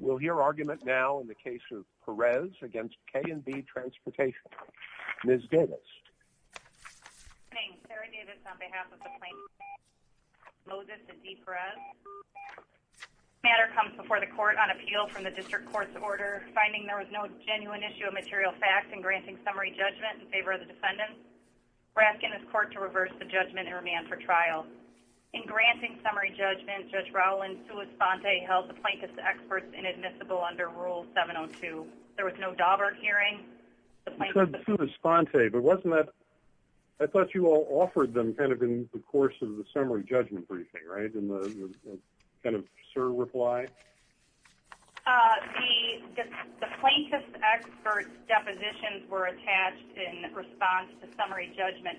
We'll hear argument now in the case of Perez v. K & B Transportation. Ms. Davis. Good evening. Sarah Davis on behalf of the plaintiffs, Moses and Dee Perez. This matter comes before the court on appeal from the District Court's order, finding there was no genuine issue of material facts in granting summary judgment in favor of the defendants. We're asking this court to reverse the judgment and remand for trial. In granting summary judgment, Judge Rowland, sui sponte, held the plaintiff's experts inadmissible under Rule 702. There was no Dauberg hearing. You said sui sponte, but wasn't that... I thought you all offered them kind of in the course of the summary judgment briefing, right? In the kind of sir reply? The plaintiff's experts' depositions were attached in response to summary judgment.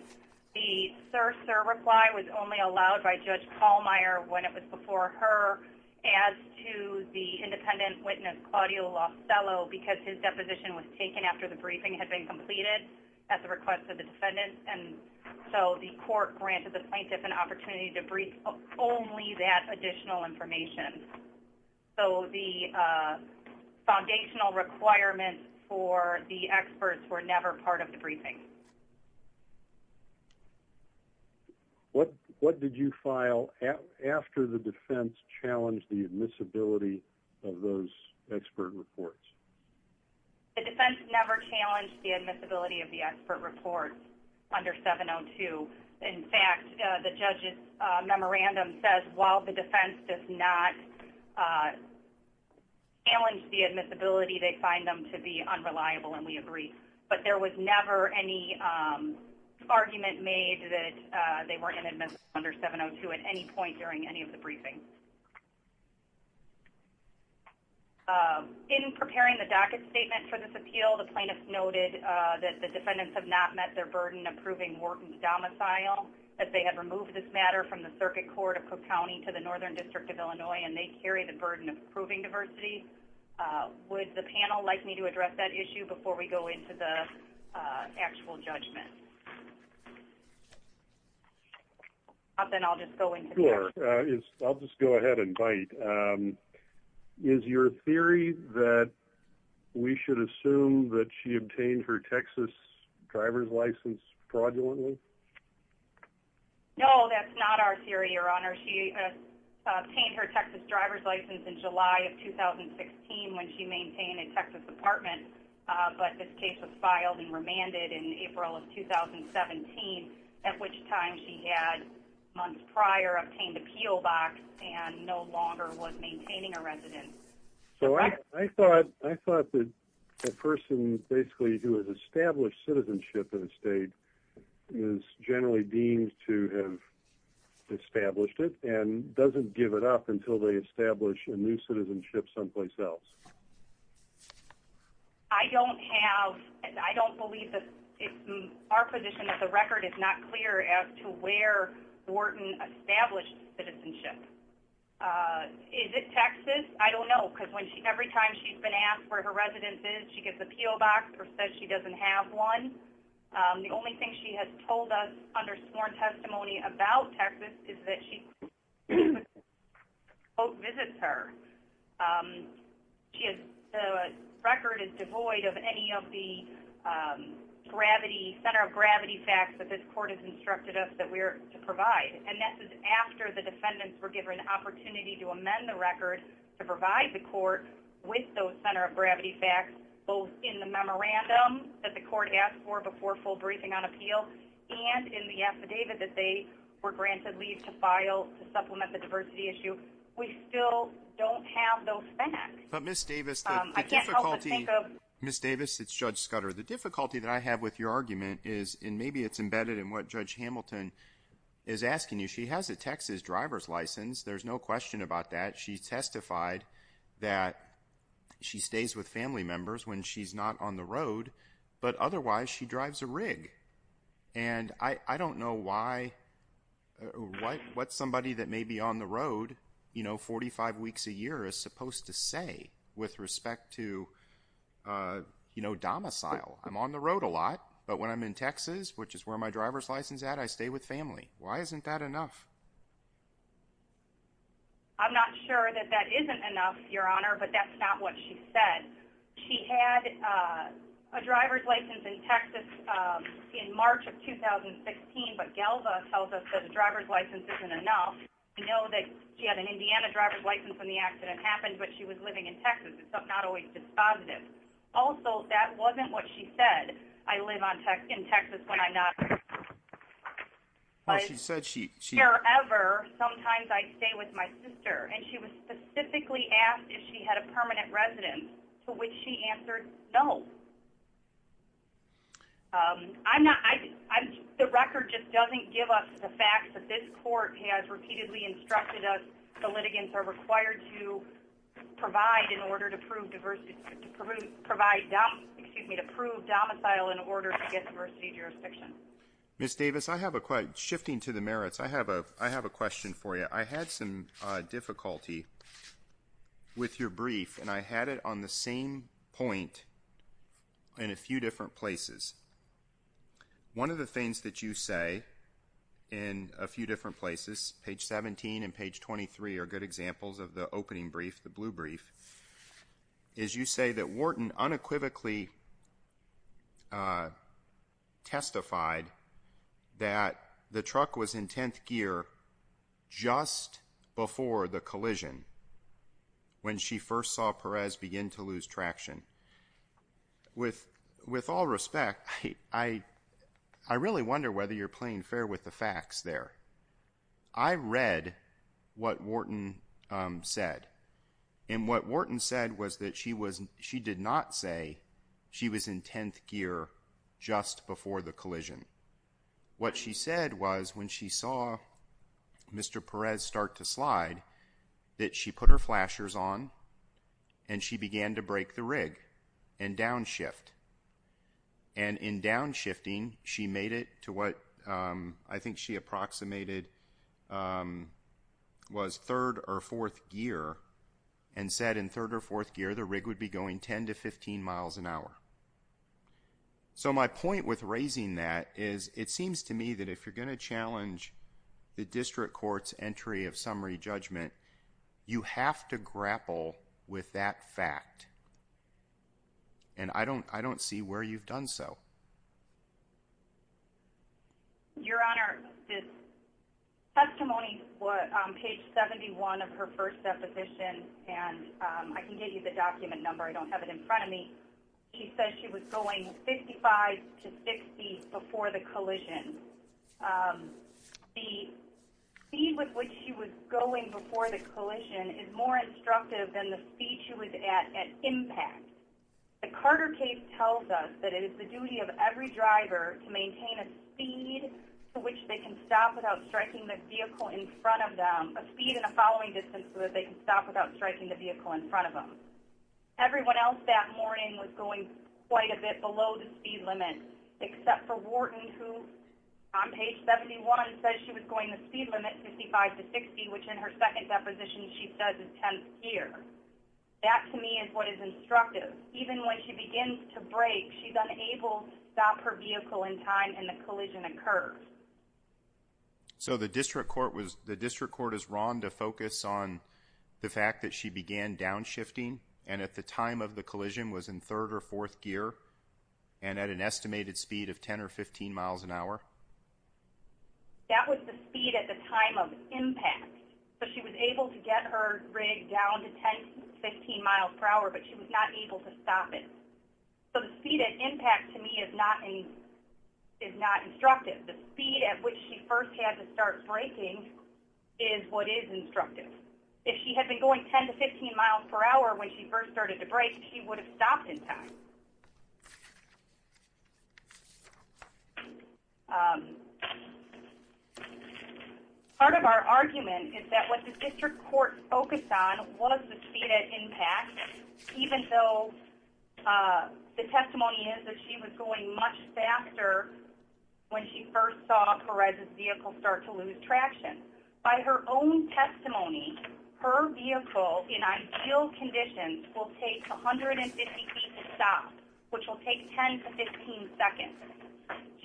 The sir, sir reply was only allowed by Judge Pallmeyer when it was before her. As to the independent witness, Claudio Lostello, because his deposition was taken after the briefing had been completed at the request of the defendants. And so the court granted the plaintiff an opportunity to brief only that additional information. So the foundational requirements for the experts were never part of the briefing. What did you file after the defense challenged the admissibility of those expert reports? The defense never challenged the admissibility of the expert reports under 702. In fact, the judge's memorandum says while the defense does not challenge the admissibility, they find them to be unreliable, and we agree. But there was never any argument made that they were inadmissible under 702 at any point during any of the briefings. In preparing the docket statement for this appeal, the plaintiff noted that the defendants have not met their burden of proving Wharton's domicile, that they have removed this matter from the circuit court of Cook County to the Northern District of Illinois, and they carry the burden of proving diversity. Would the panel like me to address that issue before we go into the actual judgment? I'll just go ahead and bite. Is your theory that we should assume that she obtained her Texas driver's license fraudulently? No, that's not our theory, Your Honor. She obtained her Texas driver's license in July of 2016 when she maintained a Texas apartment, but this case was filed and remanded in April of 2017, at which time she had, months prior, obtained a P.O. box and no longer was maintaining a residence. So I thought that the person basically who has established citizenship in the state is generally deemed to have established it and doesn't give it up until they establish a new citizenship someplace else. I don't have, I don't believe that, our position at the record is not clear as to where Wharton established citizenship. Is it Texas? I don't know, because every time she's been asked where her residence is, she gives a P.O. box or says she doesn't have one. The only thing she has told us under sworn testimony about Texas is that she, quote, visits her. She has, the record is devoid of any of the gravity, center of gravity facts that this court has instructed us that we are to provide. And that's after the defendants were given the opportunity to amend the record to provide the court with those center of gravity facts, both in the memorandum that the court asked for before full briefing on appeal and in the affidavit that they were granted leave to file to supplement the diversity issue. We still don't have those facts. But Ms. Davis, the difficulty... I can't help but think of... Ms. Davis, it's Judge Scudder. The difficulty that I have with your argument is, and maybe it's embedded in what Judge Hamilton is asking you, she has a Texas driver's license. There's no question about that. She testified that she stays with family members when she's not on the road, but otherwise she drives a rig. And I don't know what somebody that may be on the road 45 weeks a year is supposed to say with respect to domicile. I'm on the road a lot, but when I'm in Texas, which is where my driver's license is at, I stay with family. Why isn't that enough? I'm not sure that that isn't enough, Your Honor, but that's not what she said. She had a driver's license in Texas in March of 2016, but Galva tells us that a driver's license isn't enough. We know that she had an Indiana driver's license when the accident happened, but she was living in Texas. It's not always dispositive. Also, that wasn't what she said, I live in Texas when I'm not on the road. However, sometimes I'd stay with my sister, and she was specifically asked if she had a permanent residence, to which she answered no. The record just doesn't give us the fact that this court has repeatedly instructed us the litigants are required to provide in order to prove domicile in order to get diversity of jurisdiction. Ms. Davis, shifting to the merits, I have a question for you. I had some difficulty with your brief, and I had it on the same point in a few different places. One of the things that you say in a few different places, page 17 and page 23 are good examples of the opening brief, the blue brief, is you say that Wharton unequivocally testified that the truck was in 10th gear just before the collision, when she first saw Perez begin to lose traction. With all respect, I really wonder whether you're playing fair with the facts there. I read what Wharton said, and what Wharton said was that she did not say she was in 10th gear just before the collision. What she said was when she saw Mr. Perez start to slide, that she put her flashers on, and she began to break the rig and downshift. And in downshifting, she made it to what I think she approximated was third or fourth gear, and said in third or fourth gear the rig would be going 10 to 15 miles an hour. So my point with raising that is it seems to me that if you're going to challenge the district court's entry of summary judgment, you have to grapple with that fact. And I don't see where you've done so. Your Honor, this testimony on page 71 of her first deposition, and I can give you the document number, I don't have it in front of me. She says she was going 55 to 60 before the collision. The speed with which she was going before the collision is more instructive than the speed she was at at impact. The Carter case tells us that it is the duty of every driver to maintain a speed to which they can stop without striking the vehicle in front of them, a speed and a following distance so that they can stop without striking the vehicle in front of them. Everyone else that morning was going quite a bit below the speed limit, except for Wharton who on page 71 says she was going the speed limit, 55 to 60, which in her second deposition she says is 10th gear. That to me is what is instructive. Even when she begins to brake, she's unable to stop her vehicle in time and the collision occurs. So the district court is wrong to focus on the fact that she began downshifting and at the time of the collision was in 3rd or 4th gear and at an estimated speed of 10 or 15 miles an hour? That was the speed at the time of impact. So she was able to get her rig down to 10 to 15 miles per hour, but she was not able to stop it. So the speed at impact to me is not instructive. The speed at which she first had to start braking is what is instructive. If she had been going 10 to 15 miles per hour when she first started to brake, she would have stopped in time. Part of our argument is that what the district court focused on was the speed at impact, even though the testimony is that she was going much faster when she first saw Perez's vehicle start to lose traction. By her own testimony, her vehicle in ideal conditions will take 150 feet to stop, which will take 10 to 15 seconds.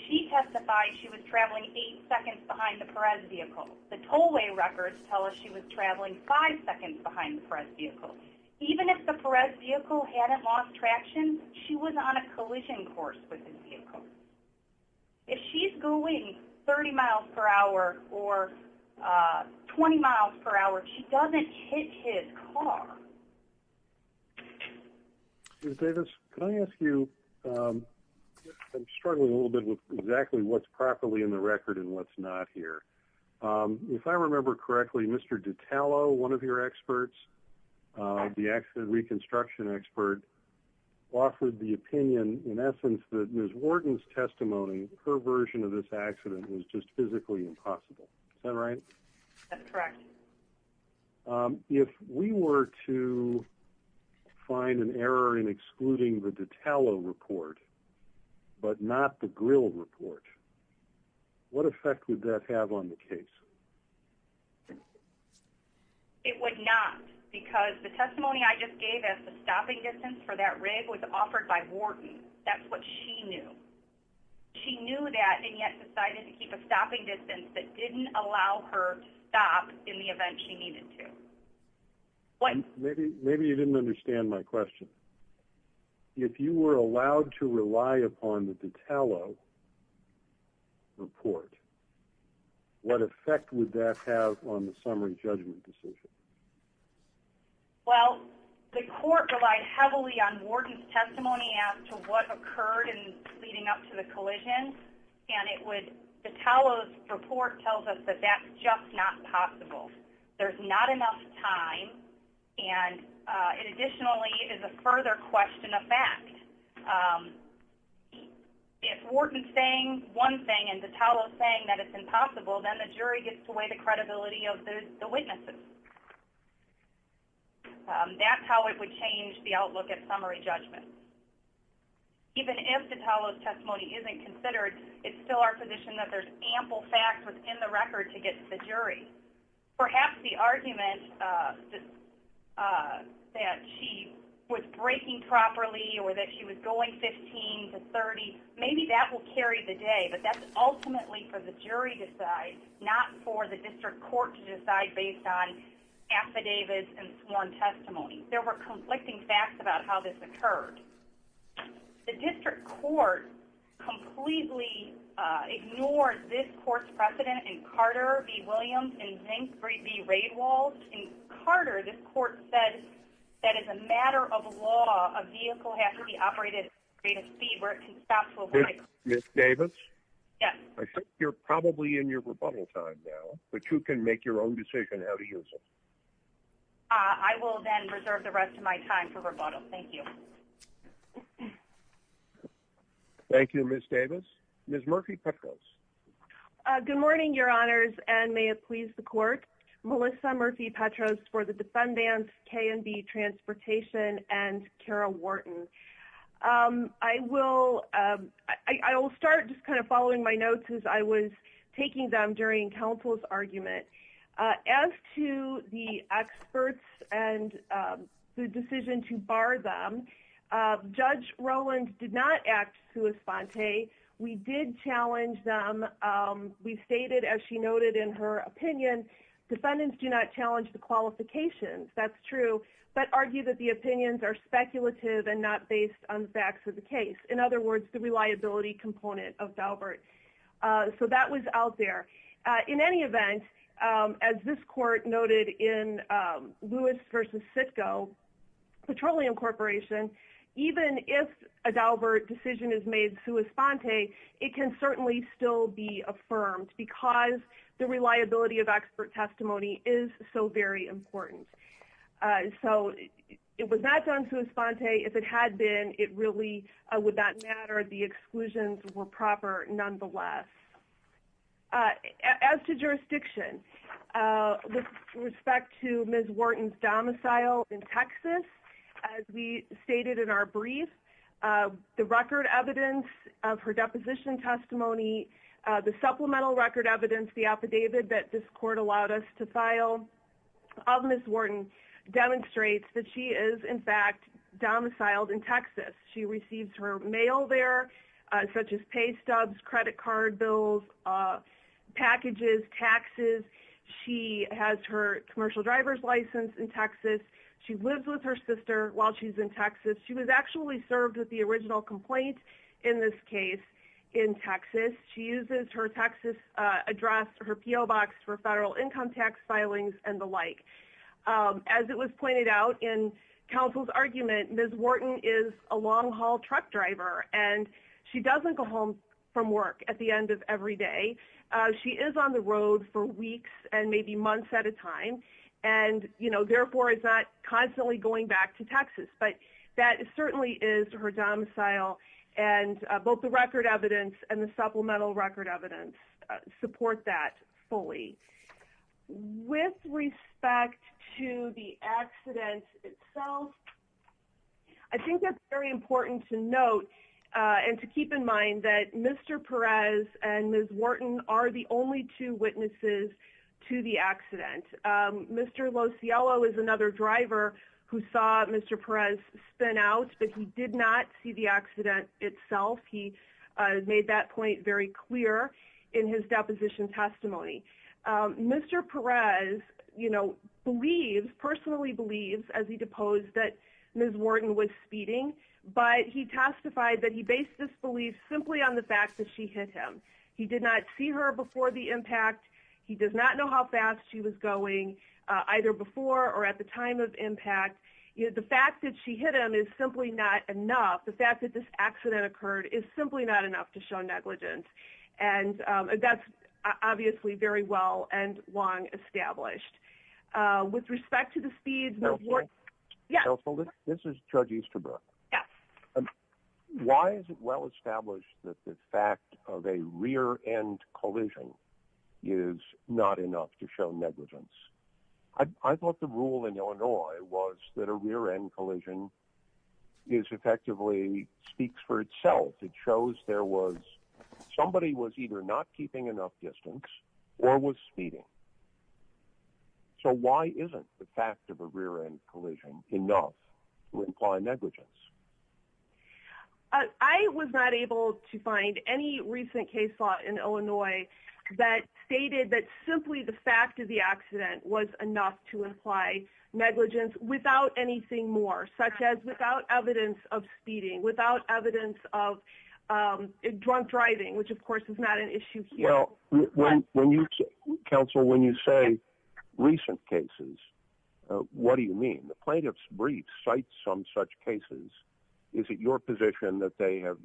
She testified she was traveling 8 seconds behind the Perez vehicle. The tollway records tell us she was traveling 5 seconds behind the Perez vehicle. Even if the Perez vehicle hadn't lost traction, she was on a collision course with this vehicle. If she's going 30 miles per hour or 20 miles per hour, she doesn't hit his car. Can I ask you, I'm struggling a little bit with exactly what's properly in the record and what's not here. If I remember correctly, Mr. Detallo, one of your experts, the reconstruction expert, offered the opinion, in essence, that Ms. Wharton's testimony, her version of this accident, was just physically impossible. Is that right? That's correct. If we were to find an error in excluding the Detallo report, but not the Grill report, what effect would that have on the case? It would not, because the testimony I just gave as the stopping distance for that rig was offered by Wharton. That's what she knew. She knew that and yet decided to keep a stopping distance that didn't allow her to stop in the event she needed to. Maybe you didn't understand my question. If you were allowed to rely upon the Detallo report, what effect would that have on the summary judgment decision? Well, the court relied heavily on Wharton's testimony as to what occurred in leading up to the collision. And it would, Detallo's report tells us that that's just not possible. There's not enough time and it additionally is a further question of fact. If Wharton's saying one thing and Detallo's saying that it's impossible, then the jury gets to weigh the credibility of the witnesses. That's how it would change the outlook at summary judgment. Even if Detallo's testimony isn't considered, it's still our position that there's ample fact within the record to get to the jury. Perhaps the argument that she was braking properly or that she was going 15 to 30, maybe that will carry the day. But that's ultimately for the jury to decide, not for the district court to decide based on affidavits and sworn testimony. There were conflicting facts about how this occurred. The district court completely ignored this court's precedent in Carter v. Williams and Zink v. Radewald. In Carter, this court said that as a matter of law, a vehicle has to be operated at a rate of speed where it can stop to avoid a collision. Ms. Davis, I think you're probably in your rebuttal time now, but you can make your own decision how to use it. I will then reserve the rest of my time for rebuttal. Thank you. Thank you, Ms. Davis. Ms. Murphy-Petros. Good morning, Your Honors, and may it please the court. Melissa Murphy-Petros for the defendants, K&B Transportation and Kara Wharton. I will start just kind of following my notes as I was taking them during counsel's argument. As to the experts and the decision to bar them, Judge Rowland did not act sui sponte. We did challenge them. We stated, as she noted in her opinion, defendants do not challenge the qualifications. That's true. But argue that the opinions are speculative and not based on facts of the case. In other words, the reliability component of Daubert. So that was out there. In any event, as this court noted in Lewis v. Sitko, Petroleum Corporation, even if a Daubert decision is made sui sponte, it can certainly still be affirmed because the reliability of expert testimony is so very important. So it was not done sui sponte. If it had been, it really would not matter. The exclusions were proper, nonetheless. As to jurisdiction, with respect to Ms. Wharton's domicile in Texas, as we stated in our brief, the record evidence of her deposition testimony, the supplemental record evidence, the affidavit that this court allowed us to file of Ms. Wharton demonstrates that she is, in fact, domiciled in Texas. She receives her mail there, such as pay stubs, credit card bills, packages, taxes. She has her commercial driver's license in Texas. She lives with her sister while she's in Texas. She was actually served with the original complaint in this case in Texas. She uses her Texas address, her P.O. box for federal income tax filings and the like. As it was pointed out in counsel's argument, Ms. Wharton is a long-haul truck driver, and she doesn't go home from work at the end of every day. She is on the road for weeks and maybe months at a time, and therefore is not constantly going back to Texas. But that certainly is her domicile, and both the record evidence and the supplemental record evidence support that fully. With respect to the accident itself, I think it's very important to note and to keep in mind that Mr. Perez and Ms. Wharton are the only two witnesses to the accident. Mr. Losiello is another driver who saw Mr. Perez spin out, but he did not see the accident itself. He made that point very clear in his deposition testimony. Mr. Perez personally believes, as he deposed, that Ms. Wharton was speeding, but he testified that he based this belief simply on the fact that she hit him. He did not see her before the impact. He does not know how fast she was going either before or at the time of impact. The fact that she hit him is simply not enough. The fact that this accident occurred is simply not enough to show negligence. And that's obviously very well and long established. With respect to the speed... Counsel, this is Judge Easterbrook. Yes. Why is it well established that the fact of a rear-end collision is not enough to show negligence? I thought the rule in Illinois was that a rear-end collision is effectively... speaks for itself. It shows there was... somebody was either not keeping enough distance or was speeding. So why isn't the fact of a rear-end collision enough to imply negligence? I was not able to find any recent case law in Illinois that stated that simply the fact of the accident was enough to imply negligence without anything more, such as without evidence of speeding, without evidence of drunk driving, which of course is not an issue here. Counsel, when you say recent cases, what do you mean? The plaintiff's brief cites some such cases. Is it your position that they have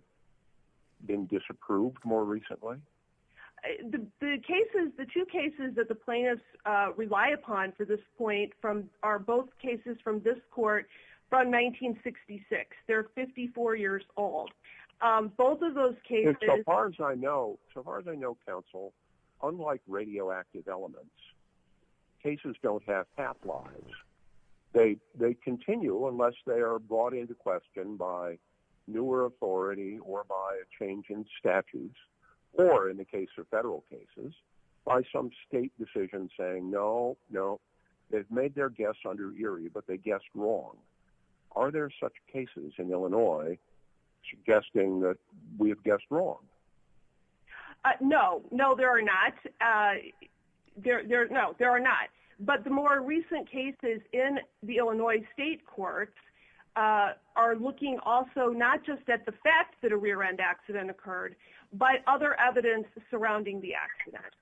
been disapproved more recently? The two cases that the plaintiffs rely upon for this point are both cases from this court from 1966. They're 54 years old. Both of those cases... So far as I know, counsel, unlike radioactive elements, cases don't have half-lives. They continue unless they are brought into question by newer authority or by a change in statutes or, in the case of federal cases, by some state decision saying, no, no, they've made their guess under Erie, but they guessed wrong. Are there such cases in Illinois suggesting that we have guessed wrong? No. No, there are not. No, there are not. But the more recent cases in the Illinois state courts are looking also not just at the fact that a rear-end accident occurred, but other evidence surrounding the accident.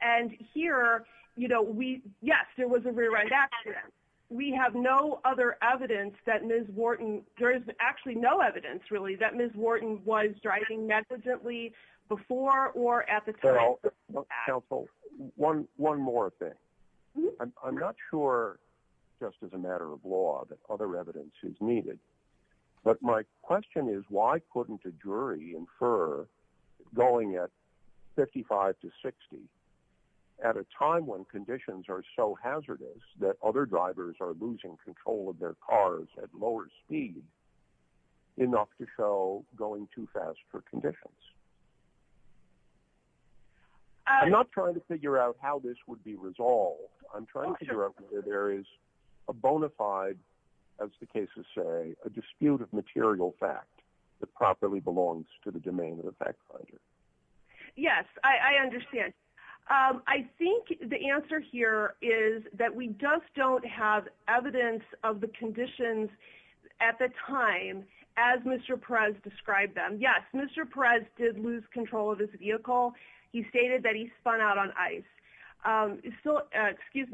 And here, you know, we... Yes, there was a rear-end accident. We have no other evidence that Ms. Wharton... There is actually no evidence, really, that Ms. Wharton was driving negligently before or at the time. Now, counsel, one more thing. I'm not sure, just as a matter of law, that other evidence is needed, but my question is, why couldn't a jury infer going at 55 to 60 at a time when conditions are so hazardous that other drivers are losing control of their cars at lower speeds enough to show going too fast for conditions? I'm not trying to figure out how this would be resolved. I'm trying to figure out whether there is a bona fide, as the cases say, a dispute of material fact that properly belongs to the domain of the fact finder. Yes, I understand. I think the answer here is that we just don't have evidence of the conditions at the time as Mr. Perez described them. Yes, Mr. Perez did lose control of his vehicle. He stated that he spun out on ice. He did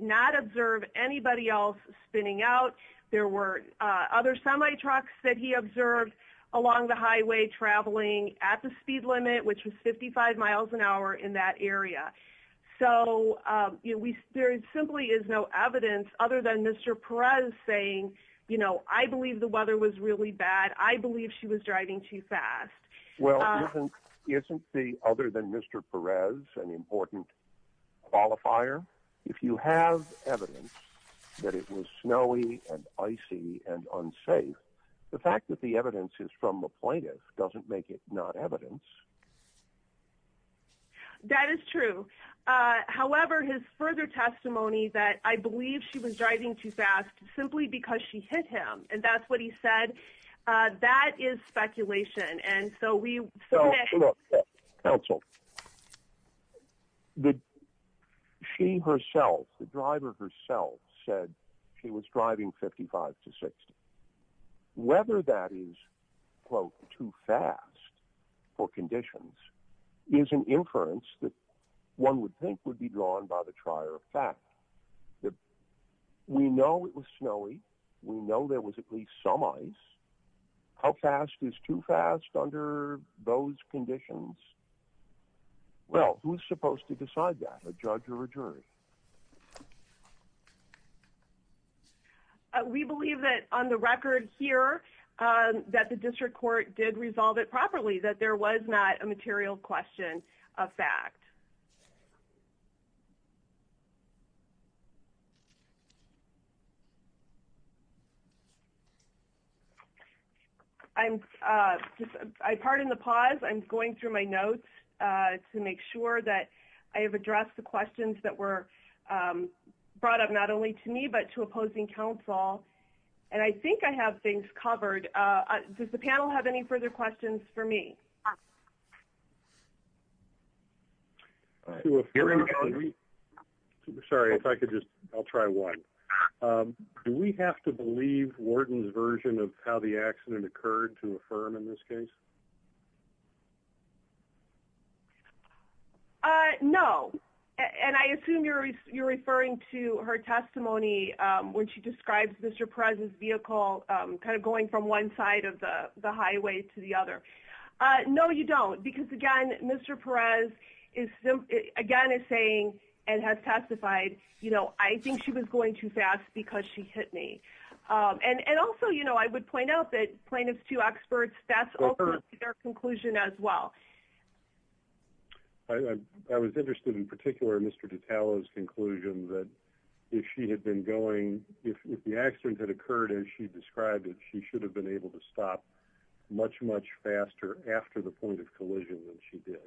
not observe anybody else spinning out. There were other semi-trucks that he observed along the highway traveling at the speed limit, which was 55 miles an hour. So there simply is no evidence other than Mr. Perez saying, you know, I believe the weather was really bad. I believe she was driving too fast. Well, isn't the other than Mr. Perez an important qualifier? If you have evidence that it was snowy and icy and unsafe, the fact that the evidence is from the plaintiff doesn't make it not evidence. That is true. However, his further testimony that I believe she was driving too fast simply because she hit him. And that's what he said. That is speculation. And so we. Counsel. She herself, the driver herself said she was driving 55 to 60. Whether that is, quote, too fast for conditions is an inference that one would think would be drawn by the trier of facts. We know it was snowy. We know there was at least some ice. How fast is too fast under those conditions? Well, who's supposed to decide that, a judge or a jury? We believe that on the record here that the district court did resolve it properly, that there was not a material question of fact. I'm just I pardon the pause. I'm going through my notes to make sure that I have addressed the questions that were brought up not only to me, but to opposing counsel. And I think I have things covered. Does the panel have any further questions for me? Sorry, if I could just I'll try one. Do we have to believe Wharton's version of how the accident occurred to affirm in this case? No. And I assume you're you're referring to her testimony when she describes Mr. Perez's vehicle kind of going from one side of the highway to the other. No, you don't. Because, again, Mr. Perez is again is saying and has testified, you know, I think she was going too fast because she hit me. And also, you know, I would point out that plaintiff's two experts, that's their conclusion as well. I was interested in particular, Mr. Ditalo's conclusion that if she had been going if the accident had occurred and she described it, she should have been able to stop much, much faster after the point of collision than she did.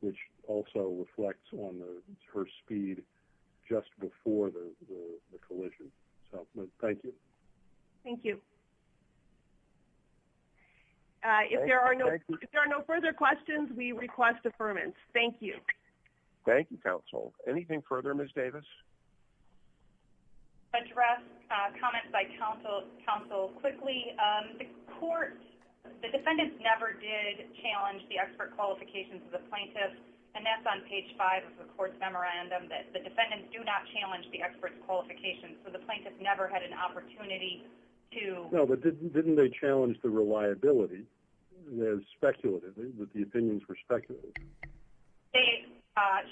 Which also reflects on her speed just before the collision. Thank you. Thank you. If there are no further questions, we request affirmance. Thank you. Thank you, counsel. Anything further, Ms. Davis. Address comments by counsel quickly. The court, the defendants never did challenge the expert qualifications of the plaintiff. And that's on page five of the court's memorandum that the defendants do not challenge the expert's qualifications. So the plaintiff never had an opportunity to. No, but didn't they challenge the reliability, the speculative, that the opinions were speculative? They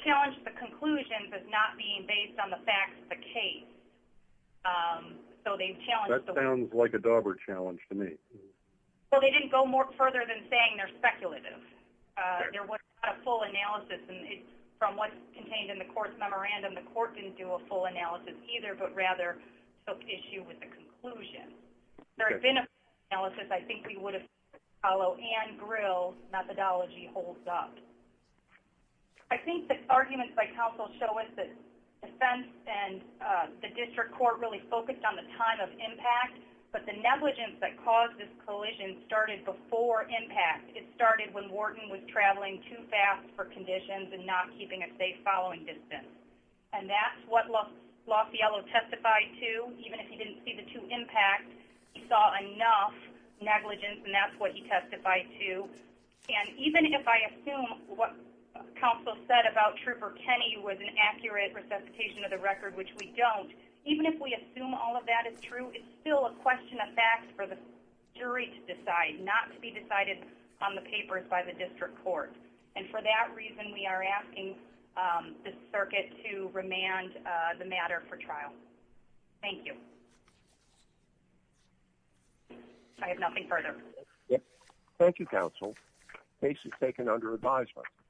challenged the conclusion, but not being based on the facts of the case. So they challenged. That sounds like a dauber challenge to me. Well, they didn't go more further than saying they're speculative. There wasn't a full analysis. And from what's contained in the court's memorandum, the court didn't do a full analysis either, but rather took issue with the conclusion. If there had been a full analysis, I think we would have seen that Ditalo and Grill's methodology holds up. I think the arguments by counsel show us that defense and the district court really focused on the time of impact, but the negligence that caused this collision started before impact. It started when Wharton was traveling too fast for conditions and not keeping a safe following distance. And that's what Loffiello testified to, even if he didn't see the two impacts. He saw enough negligence, and that's what he testified to. And even if I assume what counsel said about Trooper Kenny was an accurate resuscitation of the record, which we don't, even if we assume all of that is true, it's still a question of facts for the jury to decide, not to be decided on the papers by the district court. And for that reason, we are asking the circuit to remand the matter for trial. Thank you. I have nothing further. Thank you, counsel. Case is taken under advisement.